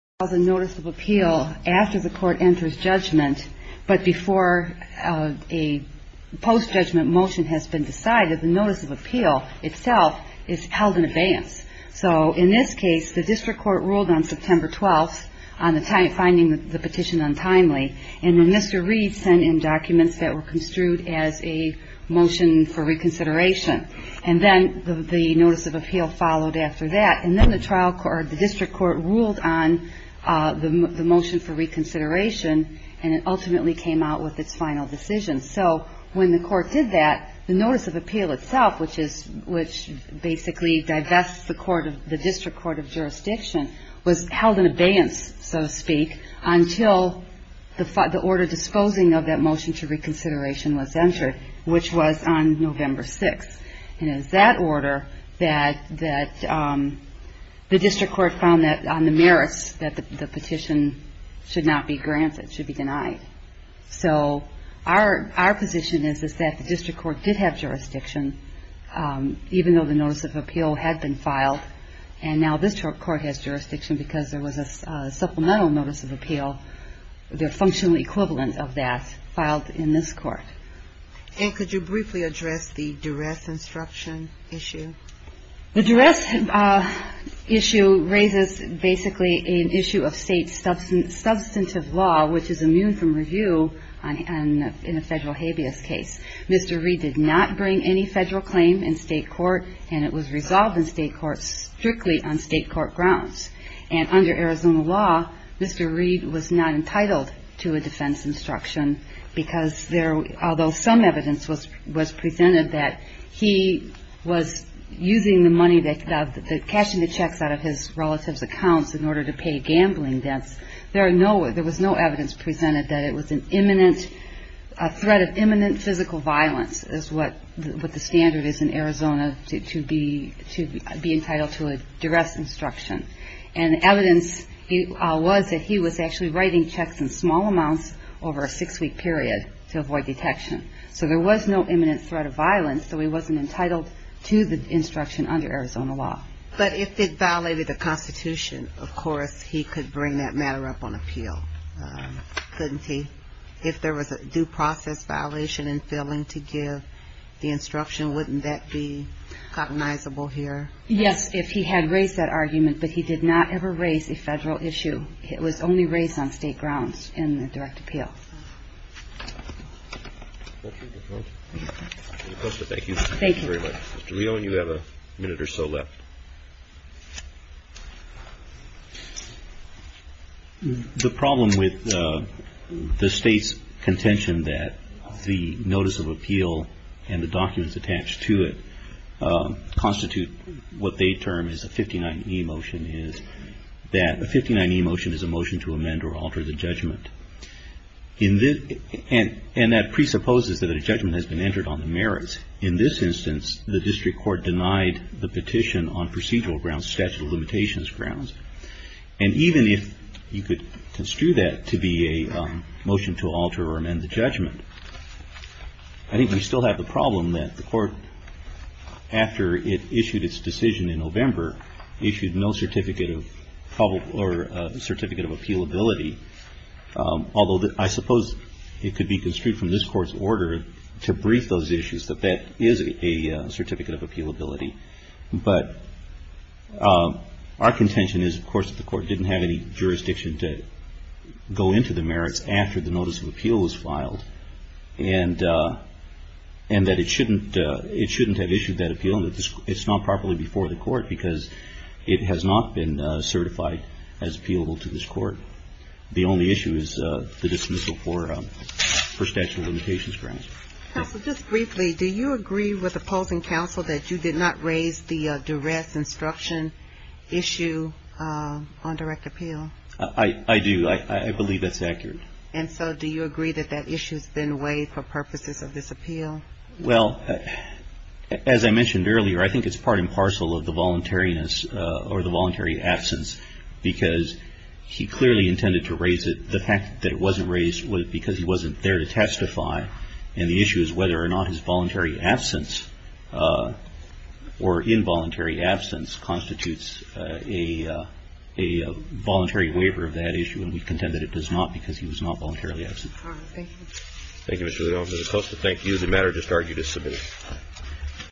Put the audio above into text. The notice of appeal after the court enters judgment, but before a post-judgment motion has been decided, the notice of appeal itself is held in advance. So in this case, the district court ruled on September 12th, finding the petition untimely. And then Mr. Reed sent in documents that were construed as a motion for reconsideration. And then the notice of appeal followed after that. And then the district court ruled on the motion for reconsideration, and it ultimately came out with its final decision. So when the court did that, the notice of appeal itself, which basically divests the district court of jurisdiction, was held in abeyance, so to speak, until the order disposing of that motion to reconsideration was entered, which was on November 6th. And it was that order that the district court found that on the merits that the petition should not be granted, should be denied. So our position is that the district court did have jurisdiction, even though the notice of appeal had been filed. And now this court has jurisdiction because there was a supplemental notice of appeal, the functional equivalent of that, filed in this court. And could you briefly address the duress instruction issue? The duress issue raises basically an issue of state substantive law, which is immune from review in a federal habeas case. Mr. Reed did not bring any federal claim in state court, and it was resolved in state court strictly on state court grounds. And under Arizona law, Mr. Reed was not entitled to a defense instruction because there, although some evidence was presented that he was using the money, cashing the checks out of his relatives' accounts in order to pay gambling debts, there was no evidence presented that it was an imminent threat of imminent physical violence is what the standard is in Arizona to be entitled to a duress instruction. And evidence was that he was actually writing checks in small amounts over a six-week period to avoid detection. So there was no imminent threat of violence, so he wasn't entitled to the instruction under Arizona law. But if it violated the Constitution, of course, he could bring that matter up on appeal, couldn't he? If there was a due process violation in failing to give the instruction, wouldn't that be cognizable here? Yes, if he had raised that argument, but he did not ever raise a federal issue. It was only raised on state grounds in the direct appeal. Thank you. Mr. Whelan, you have a minute or so left. The problem with the state's contention that the notice of appeal and the documents attached to it constitute what they term is a 59E motion is that a 59E motion is a motion to amend or alter the judgment. And that presupposes that a judgment has been entered on the merits. In this instance, the district court denied the petition on procedural grounds, statute of limitations grounds. And even if you could construe that to be a motion to alter or amend the judgment, I think we still have the problem that the court, after it issued its decision in November, issued no certificate of public or certificate of appealability. Although I suppose it could be construed from this court's order to brief those issues that that is a certificate of appealability. But our contention is, of course, that the court didn't have any jurisdiction to go into the merits after the notice of appeal was filed. And that it shouldn't have issued that appeal. It's not properly before the court because it has not been certified as appealable to this court. The only issue is the dismissal for statute of limitations grounds. Counsel, just briefly, do you agree with opposing counsel that you did not raise the duress instruction issue on direct appeal? I do. I believe that's accurate. And so do you agree that that issue's been waived for purposes of this appeal? Well, as I mentioned earlier, I think it's part and parcel of the voluntariness or the voluntary absence because he clearly intended to raise it. The fact that it wasn't raised was because he wasn't there to testify. And the issue is whether or not his voluntary absence or involuntary absence constitutes a voluntary waiver of that issue. And we contend that it does not because he was not voluntarily absent. Thank you. Thank you, Mr. Leone. Mr. Costa, thank you. The matter is discarded. You're dismissed.